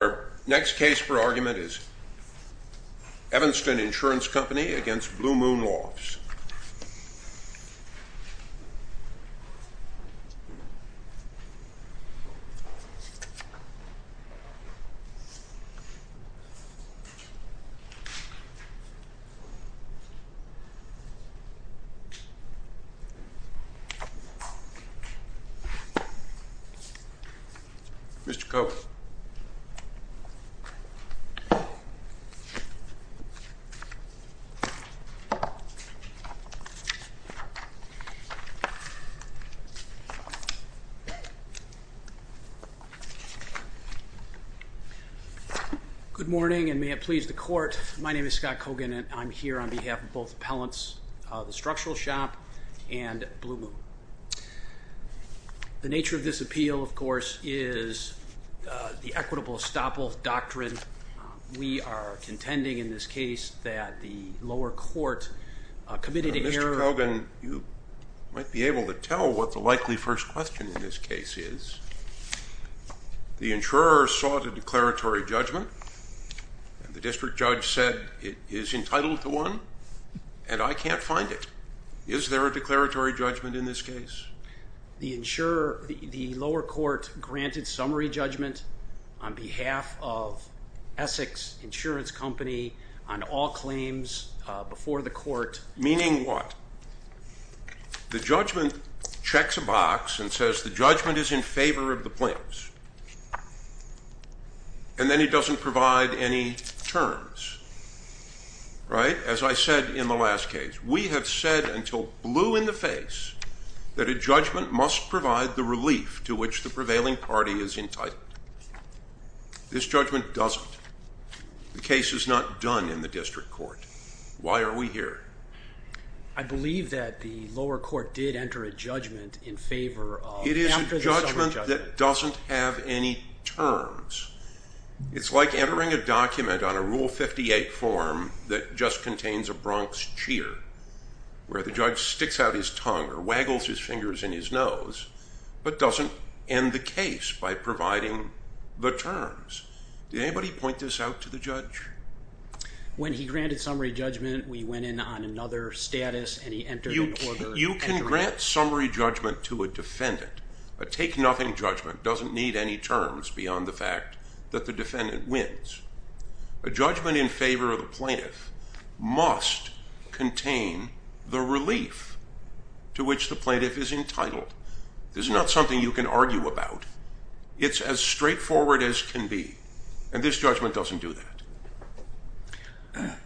Our next case for argument is Evanston Insurance Company v. Blue Moon Lofts. Good morning and may it please the court, my name is Scott Kogan and I'm here on behalf of both appellants, the Structural Shop and Blue Moon. The nature of this appeal of course is the equitable estoppel doctrine. We are contending in this case that the lower court has committed an error... Mr. Kogan, you might be able to tell what the likely first question in this case is. The insurer sought a declaratory judgment and the district judge said it is entitled to one and I can't find it. Is there a declaratory judgment in this case? The insurer, the lower court granted summary judgment on behalf of Essex Insurance Company on all claims before the court. Meaning what? The judgment checks a box and says the judgment is in favor of the plaintiffs and then he doesn't provide any terms, right? As I said in the last case, we have said until blue in the face that a judgment must provide the relief to which the prevailing party is entitled. This judgment doesn't. The case is not done in the district court. Why are we here? I believe that the lower court did enter a judgment in favor of... It is a judgment that doesn't have any terms. It's like entering a document on a rule 58 form that just contains a Bronx cheer, where the judge sticks out his tongue or waggles his fingers in his nose, but doesn't end the case by providing the terms. Did anybody point this out to the judge? When he granted summary judgment we went in on another status and he entered an order... You can grant summary judgment to a defendant. A take nothing judgment doesn't need any terms beyond the fact that the defendant wins. A judgment in favor of the plaintiff must contain the relief to which the prevailing party is entitled. This is not something you can argue about. It's as straightforward as can be. This judgment doesn't do that.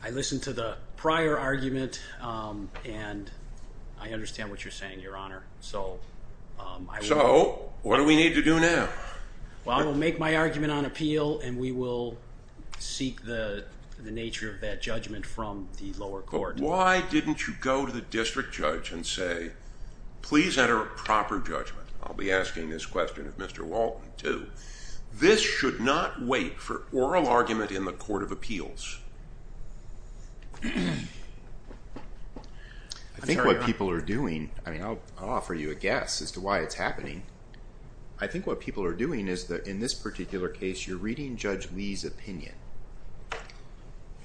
I listened to the prior argument and I understand what you're saying, your honor. So, what do we need to do now? I will make my argument on appeal and we will seek the nature of that judgment from the lower court. Why didn't you go to the district judge and say, please enter a proper judgment. I'll be asking this question of Mr. Walton too. This should not wait for oral argument in the court of appeals. I think what people are doing, I'll offer you a guess as to why it's happening. I think what people are doing is that in this particular case you're reading Judge Lee's opinion.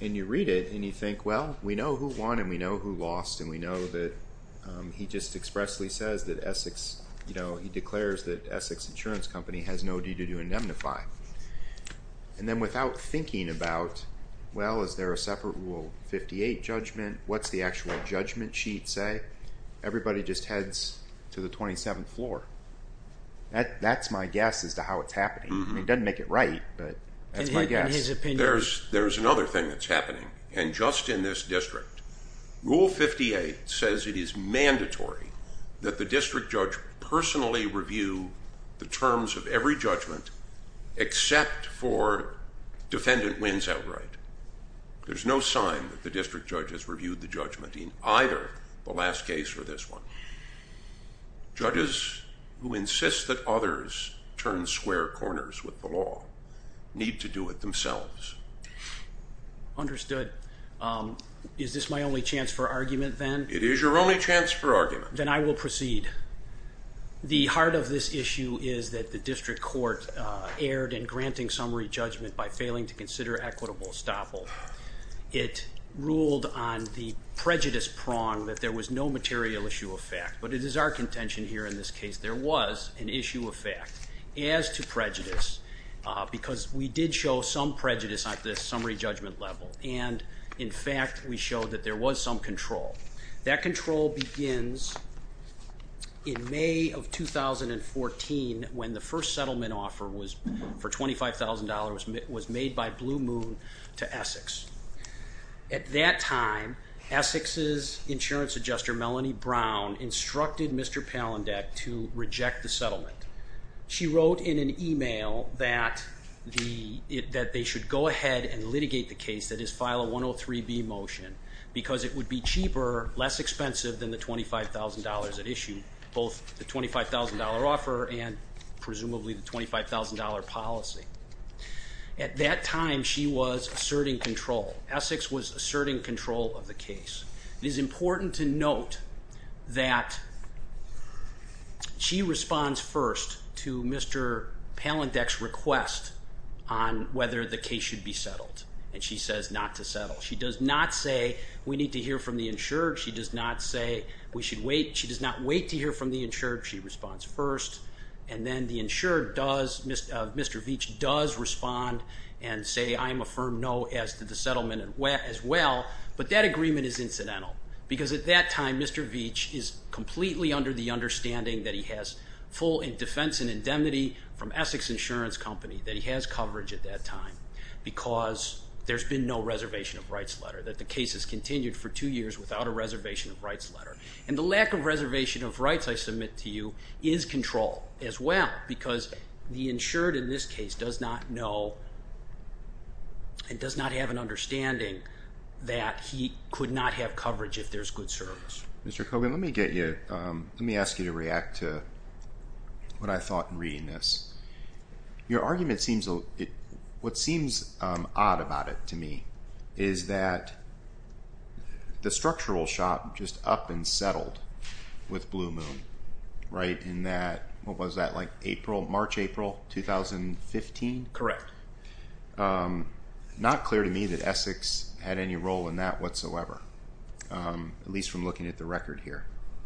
And you read it and you think, well, we know who won and we know who lost and we know that he just expressly says that Essex, you know, he declares that Essex Insurance Company has no duty to indemnify. And then without thinking about, well, is there a separate rule 58 judgment? What's the actual judgment sheet say? Everybody just heads to the 27th floor. That's my guess as to how it's happening. It doesn't make it right, but that's my guess. In his opinion. There's another thing that's happening. And just in this district, Rule 58 says it is mandatory that the district judge personally review the terms of every judgment except for defendant wins outright. There's no sign that the district judge has reviewed the judgment in either the last case or this one. Judges who insist that others turn square corners with the law need to do it themselves. Understood. Is this my only chance for argument then? It is your only chance for argument. Then I will proceed. The heart of this issue is that the district court erred in granting summary judgment by failing to consider equitable estoppel. It ruled on the prejudice prong that there was no material issue of fact, but it is our contention here in this case. There was an issue of fact as to prejudice because we did show some prejudice at the summary judgment level. And in fact, we showed that there was some control. That control begins in May of 2014 when the first settlement offer for $25,000 was made by Blue Moon to Essex. At that time, Essex's insurance adjuster Melanie Brown instructed Mr. Palandek to reject the settlement. She wrote in an email that they should go ahead and litigate the case, that is, file a 103B motion because it would be cheaper, less expensive than the $25,000 at issue, both the $25,000 offer and presumably the $25,000 policy. At that time, she was asserting control. Essex was asserting control of the case. It is important to note that she responds first to Mr. Palandek's request on whether the case should be settled. And she says not to settle. She does not say we need to hear from the insured. She does not say we should wait. She does not wait to hear from the insured. She responds first. And then the insured does, Mr. Veach, does respond and say, I'm a firm no as to the settlement as well. But that agreement is incidental because at that time, Mr. Veach is completely under the understanding that he has full defense and indemnity from Essex Insurance Company, that he has coverage at that time because there's been no reservation of rights letter, that the case has continued for two years without a reservation of rights letter. And the lack of reservation of rights, I submit to you, is control as well because the insured in this case does not know and does not have an understanding that he could not have coverage if there's good service. Mr. Kogan, let me get you, let me ask you to react to what I thought in reading this. Your argument seems, what seems odd about it to me is that the structural shop just up and settled with Blue Moon, right, in that, what was that, like April, March-April 2015? Correct. Not clear to me that Essex had any role in that whatsoever, at least from looking at the record here.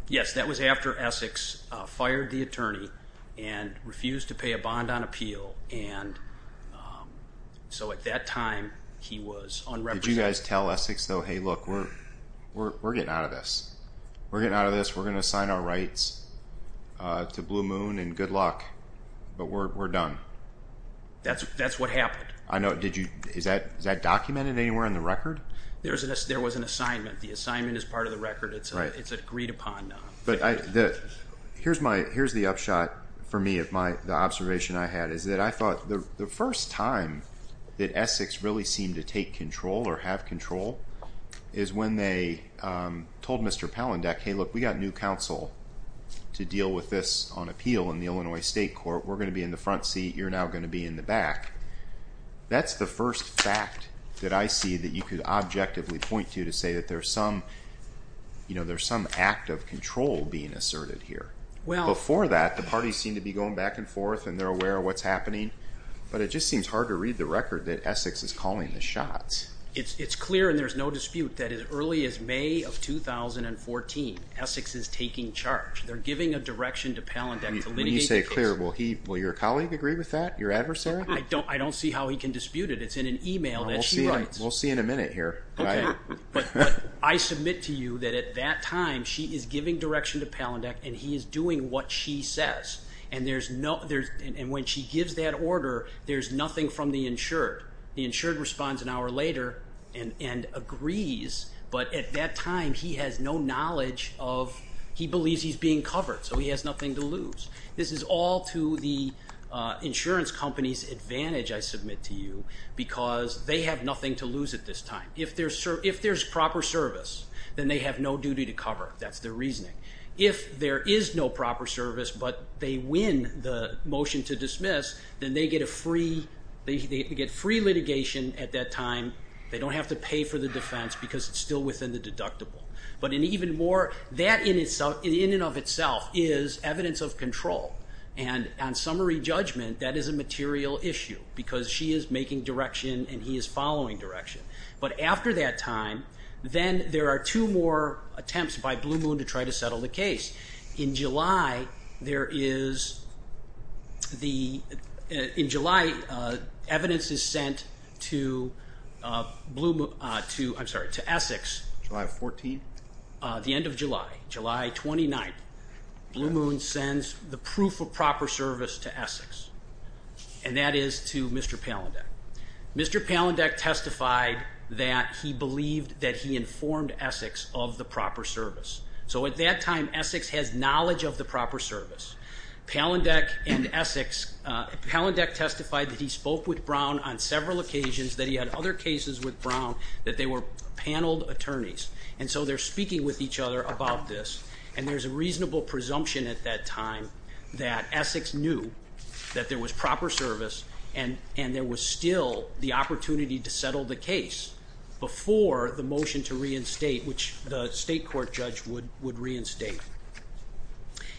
Yes, that was after Essex fired the attorney and refused to pay a bond on appeal and so at that time he was unrepresented. Did you guys tell Essex though, hey look, we're getting out of this, we're getting out of this, we're going to sign our rights to Blue Moon and good luck, but we're done? That's what happened. I know, did you, is that documented anywhere in the record? There was an assignment, the assignment is part of the record, it's agreed upon now. But I, here's my, here's the upshot for me of my, the observation I had is that I thought the first time that Essex really seemed to take control or have control is when they told Mr. Palandek, hey look, we've got new counsel to deal with this on appeal in the Illinois State Court, we're going to be in the front seat, you're now going to be in the back. That's the first fact that I see that you could objectively point to to say that there's some, you know, there's some act of control being asserted here. Before that, the parties seem to be going back and forth and they're aware of what's happening, but it just seems hard to read the record that Essex is calling the shots. It's clear and there's no dispute that as early as May of 2014, Essex is taking charge. They're giving a direction to Palandek to litigate the case. When you say clear, will he, will your colleague agree with that? Your adversary? I don't, I don't see how he can dispute it. It's in an email that she writes. We'll see in a minute here. But I submit to you that at that time, she is giving direction to Palandek and he is doing what she says. And there's no, there's, and when she gives that order, there's nothing from the insured. The insured responds an hour later and, and agrees. But at that time, he has no knowledge of, he believes he's being covered, so he has nothing to lose. This is all to the insurance company's advantage, I submit to you, because they have nothing to lose at this time. If there's, if there's proper service, then they have no duty to cover. That's their reasoning. If there is no proper service, but they win the motion to dismiss, then they get a free, they get free litigation at that time. They don't have to pay for the defense because it's still within the deductible. But an even more, that in itself, in and of itself, is evidence of control. And on summary judgment, that is a material issue because she is making direction and he is following direction. But after that time, then there are two more attempts by Blue Moon to try to settle the case. In July, there is the, in July, evidence is sent to Blue Moon, to, I'm sorry, to Essex. July 14th? The end of July, July 29th, Blue Moon sends the proof of proper service to Essex. And that is to Mr. Palandek. Mr. Palandek testified that he believed that he informed Essex of the proper service. So at that time, Essex has knowledge of the proper service. Palandek and Essex, Palandek testified that he spoke with Brown on several occasions, that he had other cases with Brown, that they were paneled attorneys. And so they're speaking with each other about this. And there's a reasonable presumption at that time that Essex knew that there was proper service and there was still the opportunity to settle the case before the motion to reinstate, which the state court judge would reinstate.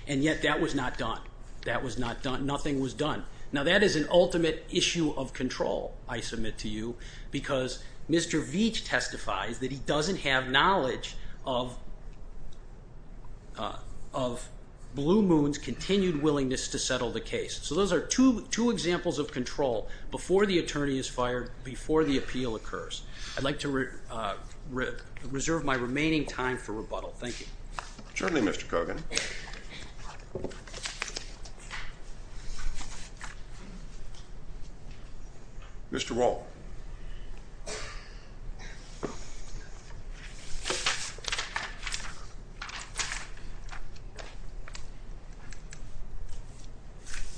And yet that was not done. That was not done. Nothing was done. Now that is an ultimate issue of control, I submit to you, because Mr. Veach testifies that he doesn't have knowledge of Blue Moon's continued willingness to settle the case. So those are two examples of control before the attorney is fired, before the appeal occurs. I'd like to reserve my remaining time for rebuttal. Thank you. Certainly, Mr. Kogan. Mr. Wohl.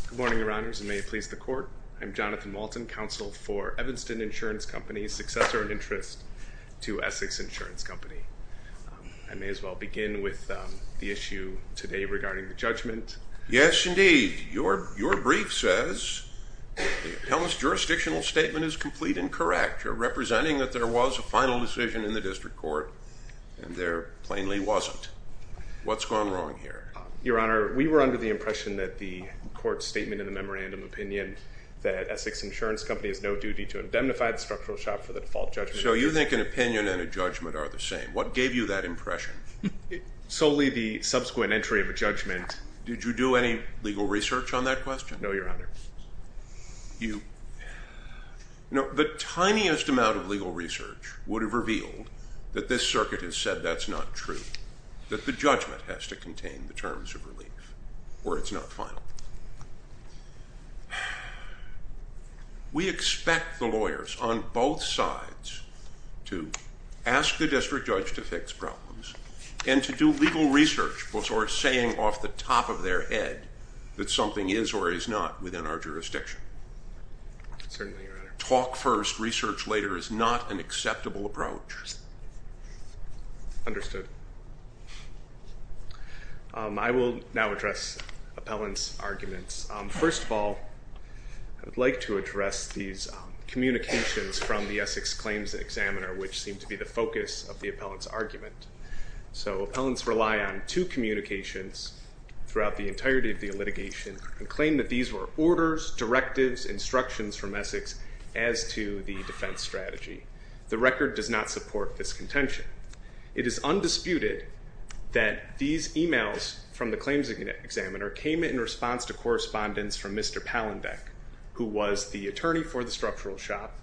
Good morning, Your Honors, and may it please the court. I'm Jonathan Walton, counsel for Evanston Insurance Company, successor in interest to Essex Insurance Company. I may as well begin with the issue today regarding the judgment. Yes, indeed. Your brief says, Hellen's jurisdictional statement is complete and correct. You're representing that there was a final decision in the district court, and there plainly wasn't. What's gone wrong here? Your Honor, we were under the impression that the court's statement in the memorandum opinion that Essex Insurance Company has no duty to indemnify the structural shop for the default judgment. So you think an opinion and a judgment are the same. What gave you that impression? Solely the subsequent entry of a judgment. Did you do any legal research on that question? No, Your Honor. You... No, the tiniest amount of legal research would have revealed that this circuit has said that's not true, that the judgment has to contain the terms of relief, or it's not final. We expect the lawyers on both sides to ask the district judge to fix problems and to do legal research before saying off the top of their head that something is or is not within our jurisdiction. Certainly, Your Honor. Talk first, research later is not an acceptable approach. Understood. I will now address appellant's arguments. First of all, I'd like to address these communications from the Essex Claims Examiner, which seem to be the focus of the appellant's argument. So appellants rely on two communications throughout the entirety of the litigation and claim that these were orders, directives, instructions from Essex Claims Examiner, and that they were not directives as to the defense strategy. The record does not support this contention. It is undisputed that these emails from the Claims Examiner came in response to correspondence from Mr. Palandek, who was the attorney for the structural shop,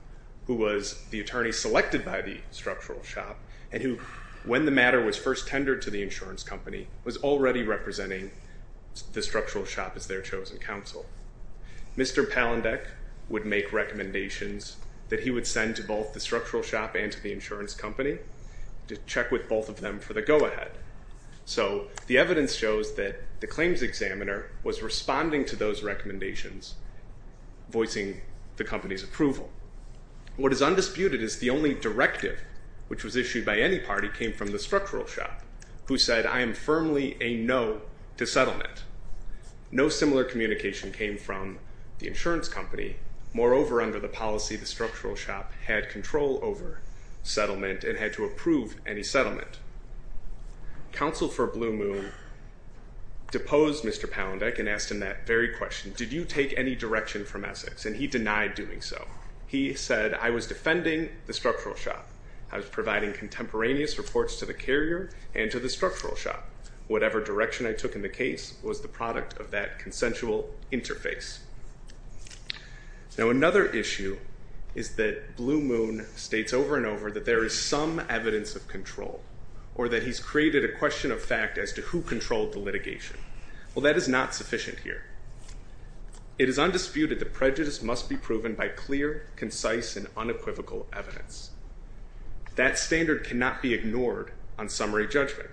who was the attorney selected by the structural shop, and who, when the matter was first tendered to the insurance company, was already representing the structural shop as their chosen counsel. Mr. Palandek would make recommendations that he would send to both the structural shop and to the insurance company to check with both of them for the go-ahead. So the evidence shows that the Claims Examiner was responding to those recommendations, voicing the company's approval. What is undisputed is the only directive which was issued by any party came from the structural shop, who said, I am firmly a no to settlement. No similar communication came from the insurance company. Moreover, under the policy, the structural shop had control over settlement and had to approve any settlement. Counsel for Blue Moon deposed Mr. Palandek and asked him that very question. Did you take any direction from Essex? And he denied doing so. He said, I was defending the structural shop. I was providing contemporaneous reports to the carrier and to the structural shop. Whatever direction I took in the case was the product of that consensual interface. Now another issue is that Blue Moon states over and over that there is some evidence of control, or that he's created a question of fact as to who controlled the litigation. Well, that is not sufficient here. It is undisputed that prejudice must be proven by clear, concise, and unequivocal evidence. That standard cannot be ignored on summary judgment.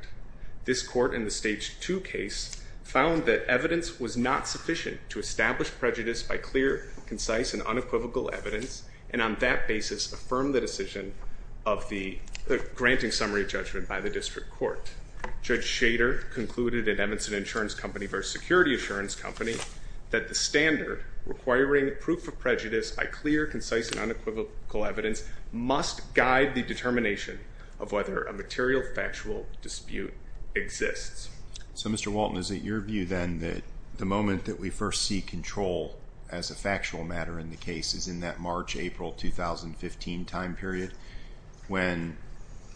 This court in the Stage 2 case found that evidence was not sufficient to establish prejudice by clear, concise, and unequivocal evidence, and on that basis, affirmed the decision of the granting summary judgment by the district court. Judge Shader concluded at Evanston Insurance Company versus Security Assurance Company that the standard requiring proof of prejudice by clear, concise, and unequivocal evidence must guide the determination of whether a material factual dispute exists. So Mr. Walton, is it your view then that the moment that we first see control as a factual matter in the case is in that March-April 2015 time period when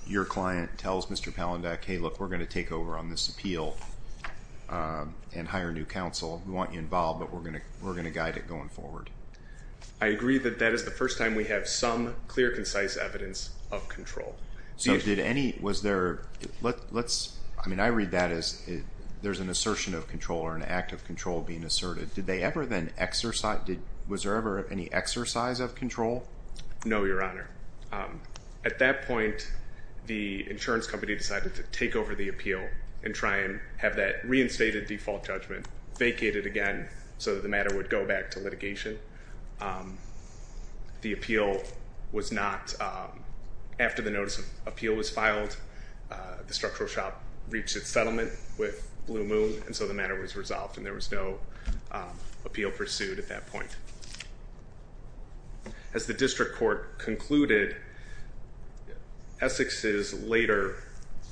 your client tells Mr. Palandak, hey look, we're going to take over on this appeal and hire new counsel. We want you involved, but we're going to guide it going forward. I agree that that is the first time we have some clear, concise evidence of control. So did any, was there, let's, I mean I read that as there's an assertion of control or an act of control being asserted. Did they ever then exercise, was there ever any exercise of control? No Your Honor. At that point, the insurance company decided to take over the appeal and try and have that reinstated default judgment vacated again so that the matter would go back to litigation. The appeal was not, after the notice of appeal was filed, the structural shop reached its settlement with Blue Moon and so the matter was resolved and there was no appeal pursued at that point. As the district court concluded, Essex's later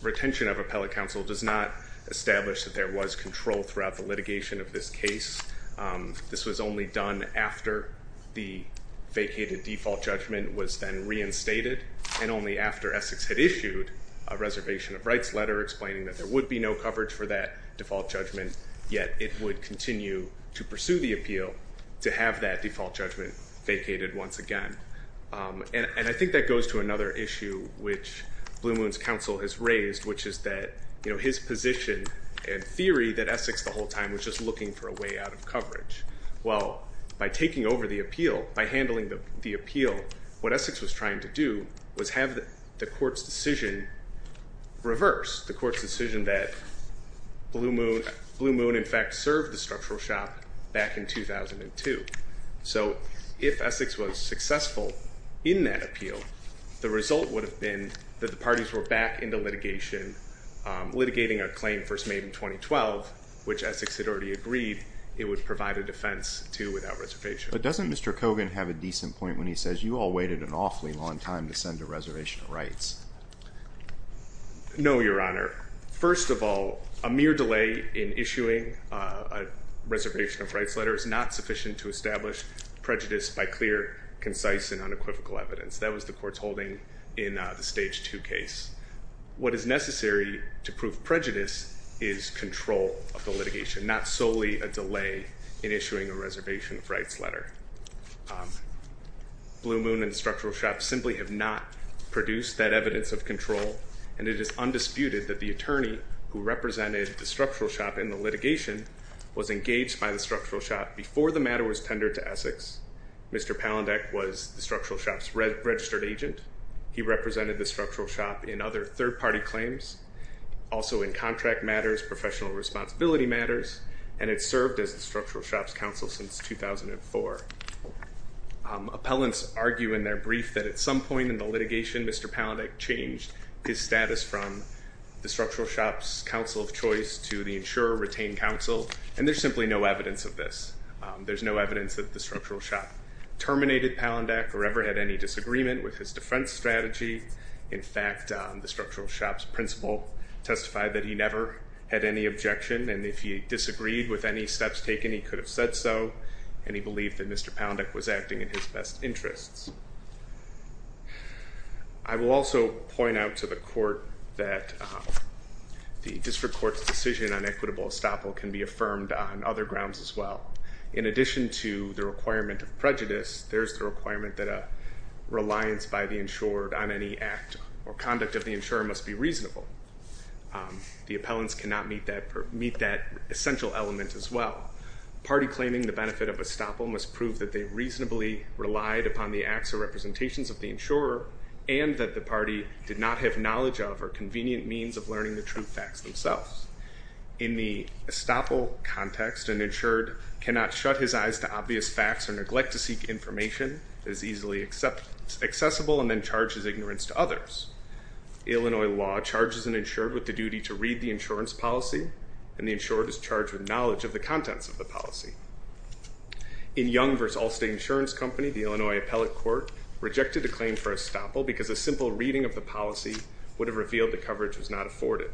retention of appellate counsel does not establish that there was control throughout the litigation of this case. This was only done after the vacated default judgment was then reinstated and only after Essex had issued a reservation of rights letter explaining that there would be no coverage for that default judgment, yet it would continue to pursue the appeal to have that default judgment vacated once again. And I think that goes to another issue which Blue Moon's counsel has raised, which is that his position and theory that Essex the whole time was just looking for a way out of coverage. Well, by taking over the appeal, by handling the appeal, what Essex was trying to do was have the court's decision reverse, the court's decision that Blue Moon in fact served the structural shop back in 2002. So if Essex was successful in that appeal, the result would have been that the parties were back into litigation, litigating a claim first made in 2012, which Essex had already agreed it would provide a defense to without reservation. But doesn't Mr. Kogan have a decent point when he says you all waited an awfully long time to send a reservation of rights? No, Your Honor. First of all, a mere delay in issuing a reservation of rights letter is not sufficient to establish prejudice by clear, concise, and unequivocal evidence. That was the court's holding in the stage two case. What is necessary to prove prejudice is control of the litigation, not solely a delay in issuing a reservation of rights letter. Blue Moon and the structural shop simply have not produced that evidence of control, and it is undisputed that the attorney who represented the structural shop in the litigation was engaged by the structural shop before the case. Mr. Palandek was the structural shop's registered agent. He represented the structural shop in other third-party claims, also in contract matters, professional responsibility matters, and had served as the structural shop's counsel since 2004. Appellants argue in their brief that at some point in the litigation, Mr. Palandek changed his status from the structural shop's counsel of choice to the insurer-retained counsel, and there's simply no evidence of that. I will also point out to the court that the district court's decision on equitable estoppel can be affirmed on other grounds as well. In addition to the requirement of the insurance, there's the requirement that a reliance by the insured on any act or conduct of the insurer must be reasonable. The appellants cannot meet that essential element as well. Party claiming the benefit of estoppel must prove that they reasonably relied upon the acts or representations of the insurer, and that the party did not have knowledge of or convenient means of learning the true facts themselves. In the estoppel context, an insured cannot shut his eyes to obvious facts or neglect to seek information that is easily accessible and then charges ignorance to others. Illinois law charges an insured with the duty to read the insurance policy, and the insured is charged with knowledge of the contents of the policy. In Young v. Allstate Insurance Company, the Illinois appellate court rejected the claim for estoppel because a simple reading of the policy would have revealed the coverage was not afforded.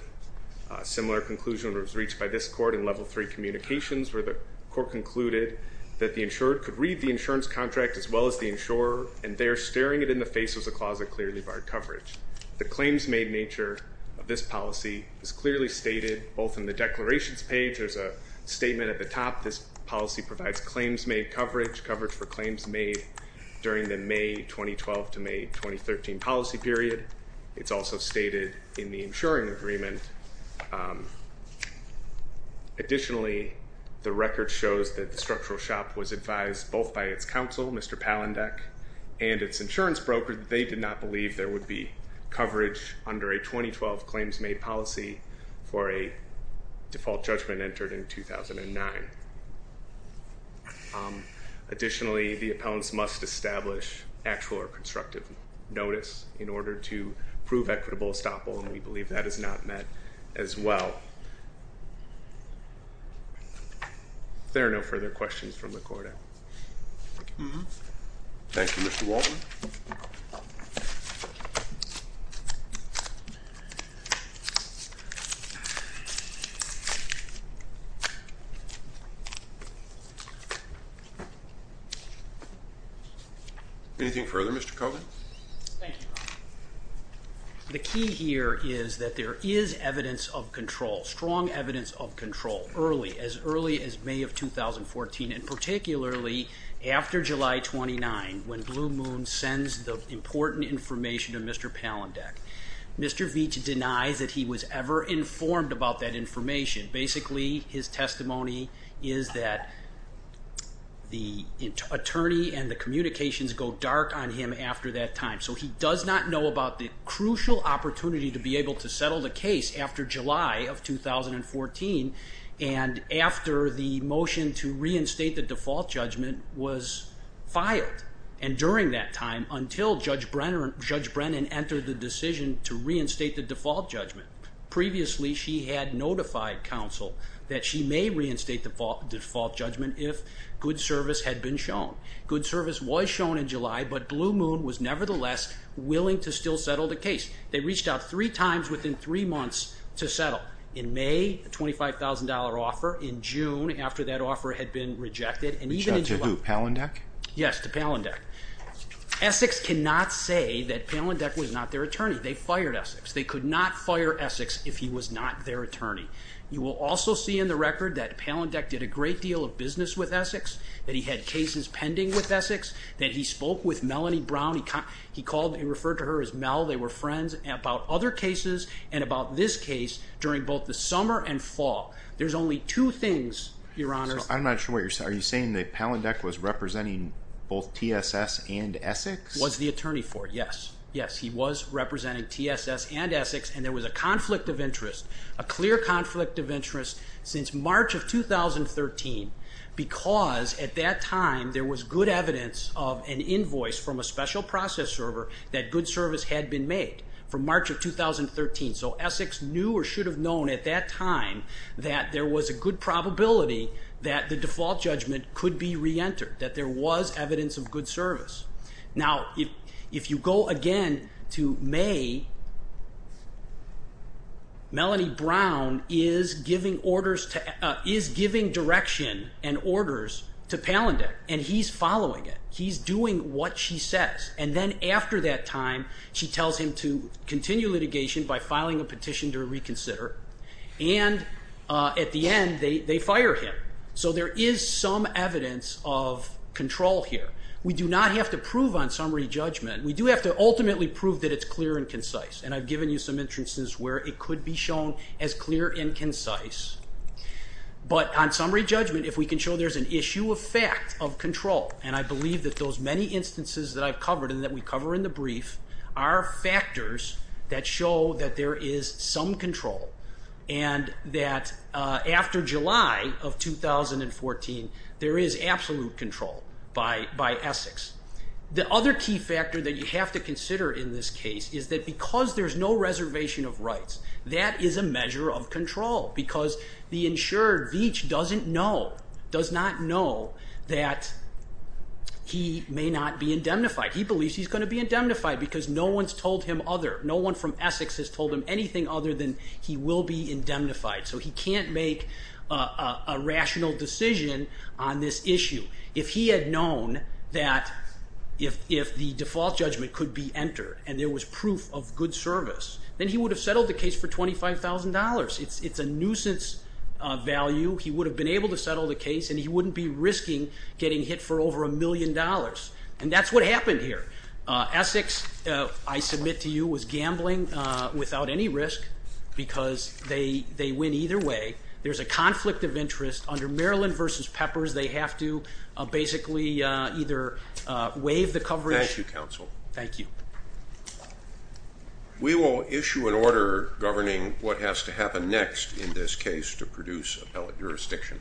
A similar conclusion was reached by this court in level three communications where the court concluded that the insured could read the insurance contract as well as the insurer, and there, staring it in the face, was a clause that clearly barred coverage. The claims made nature of this policy is clearly stated both in the declarations page, there's a statement at the top, this policy provides claims made coverage, coverage for claims made during the May 2012 to May 2013 policy period. It's also stated in the insuring agreement. Additionally, the record shows that the structural shop was advised both by its counsel, Mr. Palandek, and its insurance broker that they did not believe there would be coverage under a 2012 claims made policy for a default judgment entered in 2009. Additionally, the appellants must establish actual or constructive notice in order to prove equitable estoppel, and we believe that is not met as well. If there are no further questions from the court, I... Thank you, Mr. Walton. Anything further, Mr. Kogan? Thank you, Ron. The key here is that there is evidence of control, strong evidence of control, early, as early as May of 2014, and particularly after July 29, when Blue Moon sends the important information to Mr. Palandek. Mr. Veach denies that he was ever informed about that information. Basically, his testimony is that the attorney and the communications go dark on him after that time, so he does not know about the crucial opportunity to be able to settle the case after July of 2014, and after the motion to reinstate the default judgment was filed, and during that time, until Judge Brennan entered the decision to reinstate the default judgment. Previously, she had notified counsel that she may reinstate the default judgment if good service had been shown. Good service was shown in July, but Blue Moon was nevertheless willing to still settle the case. They reached out three times within three months to settle. In May, a $25,000 offer. In June, after that offer had been rejected, and even in July... To who? Palandek? Yes, to Palandek. Essex cannot say that Palandek was not their attorney. They fired Essex. They could not fire Essex if he was not their attorney. You will also see in the record that Palandek did a great deal of business with Essex, that he had cases pending with Essex, that he spoke with Melanie Brown. He called, he referred to her as Mel. They were friends about other cases, and about this case during both the summer and fall. There's only two things, Your Honors. I'm not sure what you're saying. Are you saying that Palandek was representing both TSS and Essex? Was the attorney for it, yes. Yes, he was representing TSS and Essex, and there was a conflict of interest, a clear conflict of interest, since March of 2013, because at that time there was good evidence of an invoice from a special process server that good service had been made for March of 2013. So Essex knew or should have known at that time that there was a good probability that the default judgment could be reentered, that there was evidence of good service. Now, if you go again to May, Melanie Brown is giving direction and orders to Palandek, and he's following it. He's doing what she says. And then after that time, she tells him to continue litigation by filing a petition to reconsider, and at the end, they fire him. So there is some evidence of control here. We do not have to prove on summary judgment. We do have to ultimately prove that it's clear and concise, and I've given you some instances where it could be shown as clear and concise. But on summary judgment, if we can show there's an issue of fact of control, and I believe that those many instances that I've covered and that we cover in the brief are factors that show that there is some control and that after July of 2014, there is absolute control by Essex. The other key factor that you have to consider in this case is that because there's no reservation of rights, that is a measure of control because the insured, Veach, doesn't know, does not know that he may not be indemnified. He believes he's going to be indemnified because no one's told him other, no one from Essex has told him anything other than he will be indemnified. So he can't make a rational decision on this issue. If he had known that if the default judgment could be entered and there was proof of good service, then he would have settled the case for $25,000. It's a nuisance value. He would have been able to settle the case, and he wouldn't be risking getting hit for over a million dollars. And that's what happened here. Essex, I submit to you, was gambling without any risk because they, they win either way. There's a conflict of interest under Maryland v. Peppers. They have to basically either waive the coverage. Thank you, counsel. Thank you. We will issue an order governing what has to happen next in this case to produce appellate jurisdiction.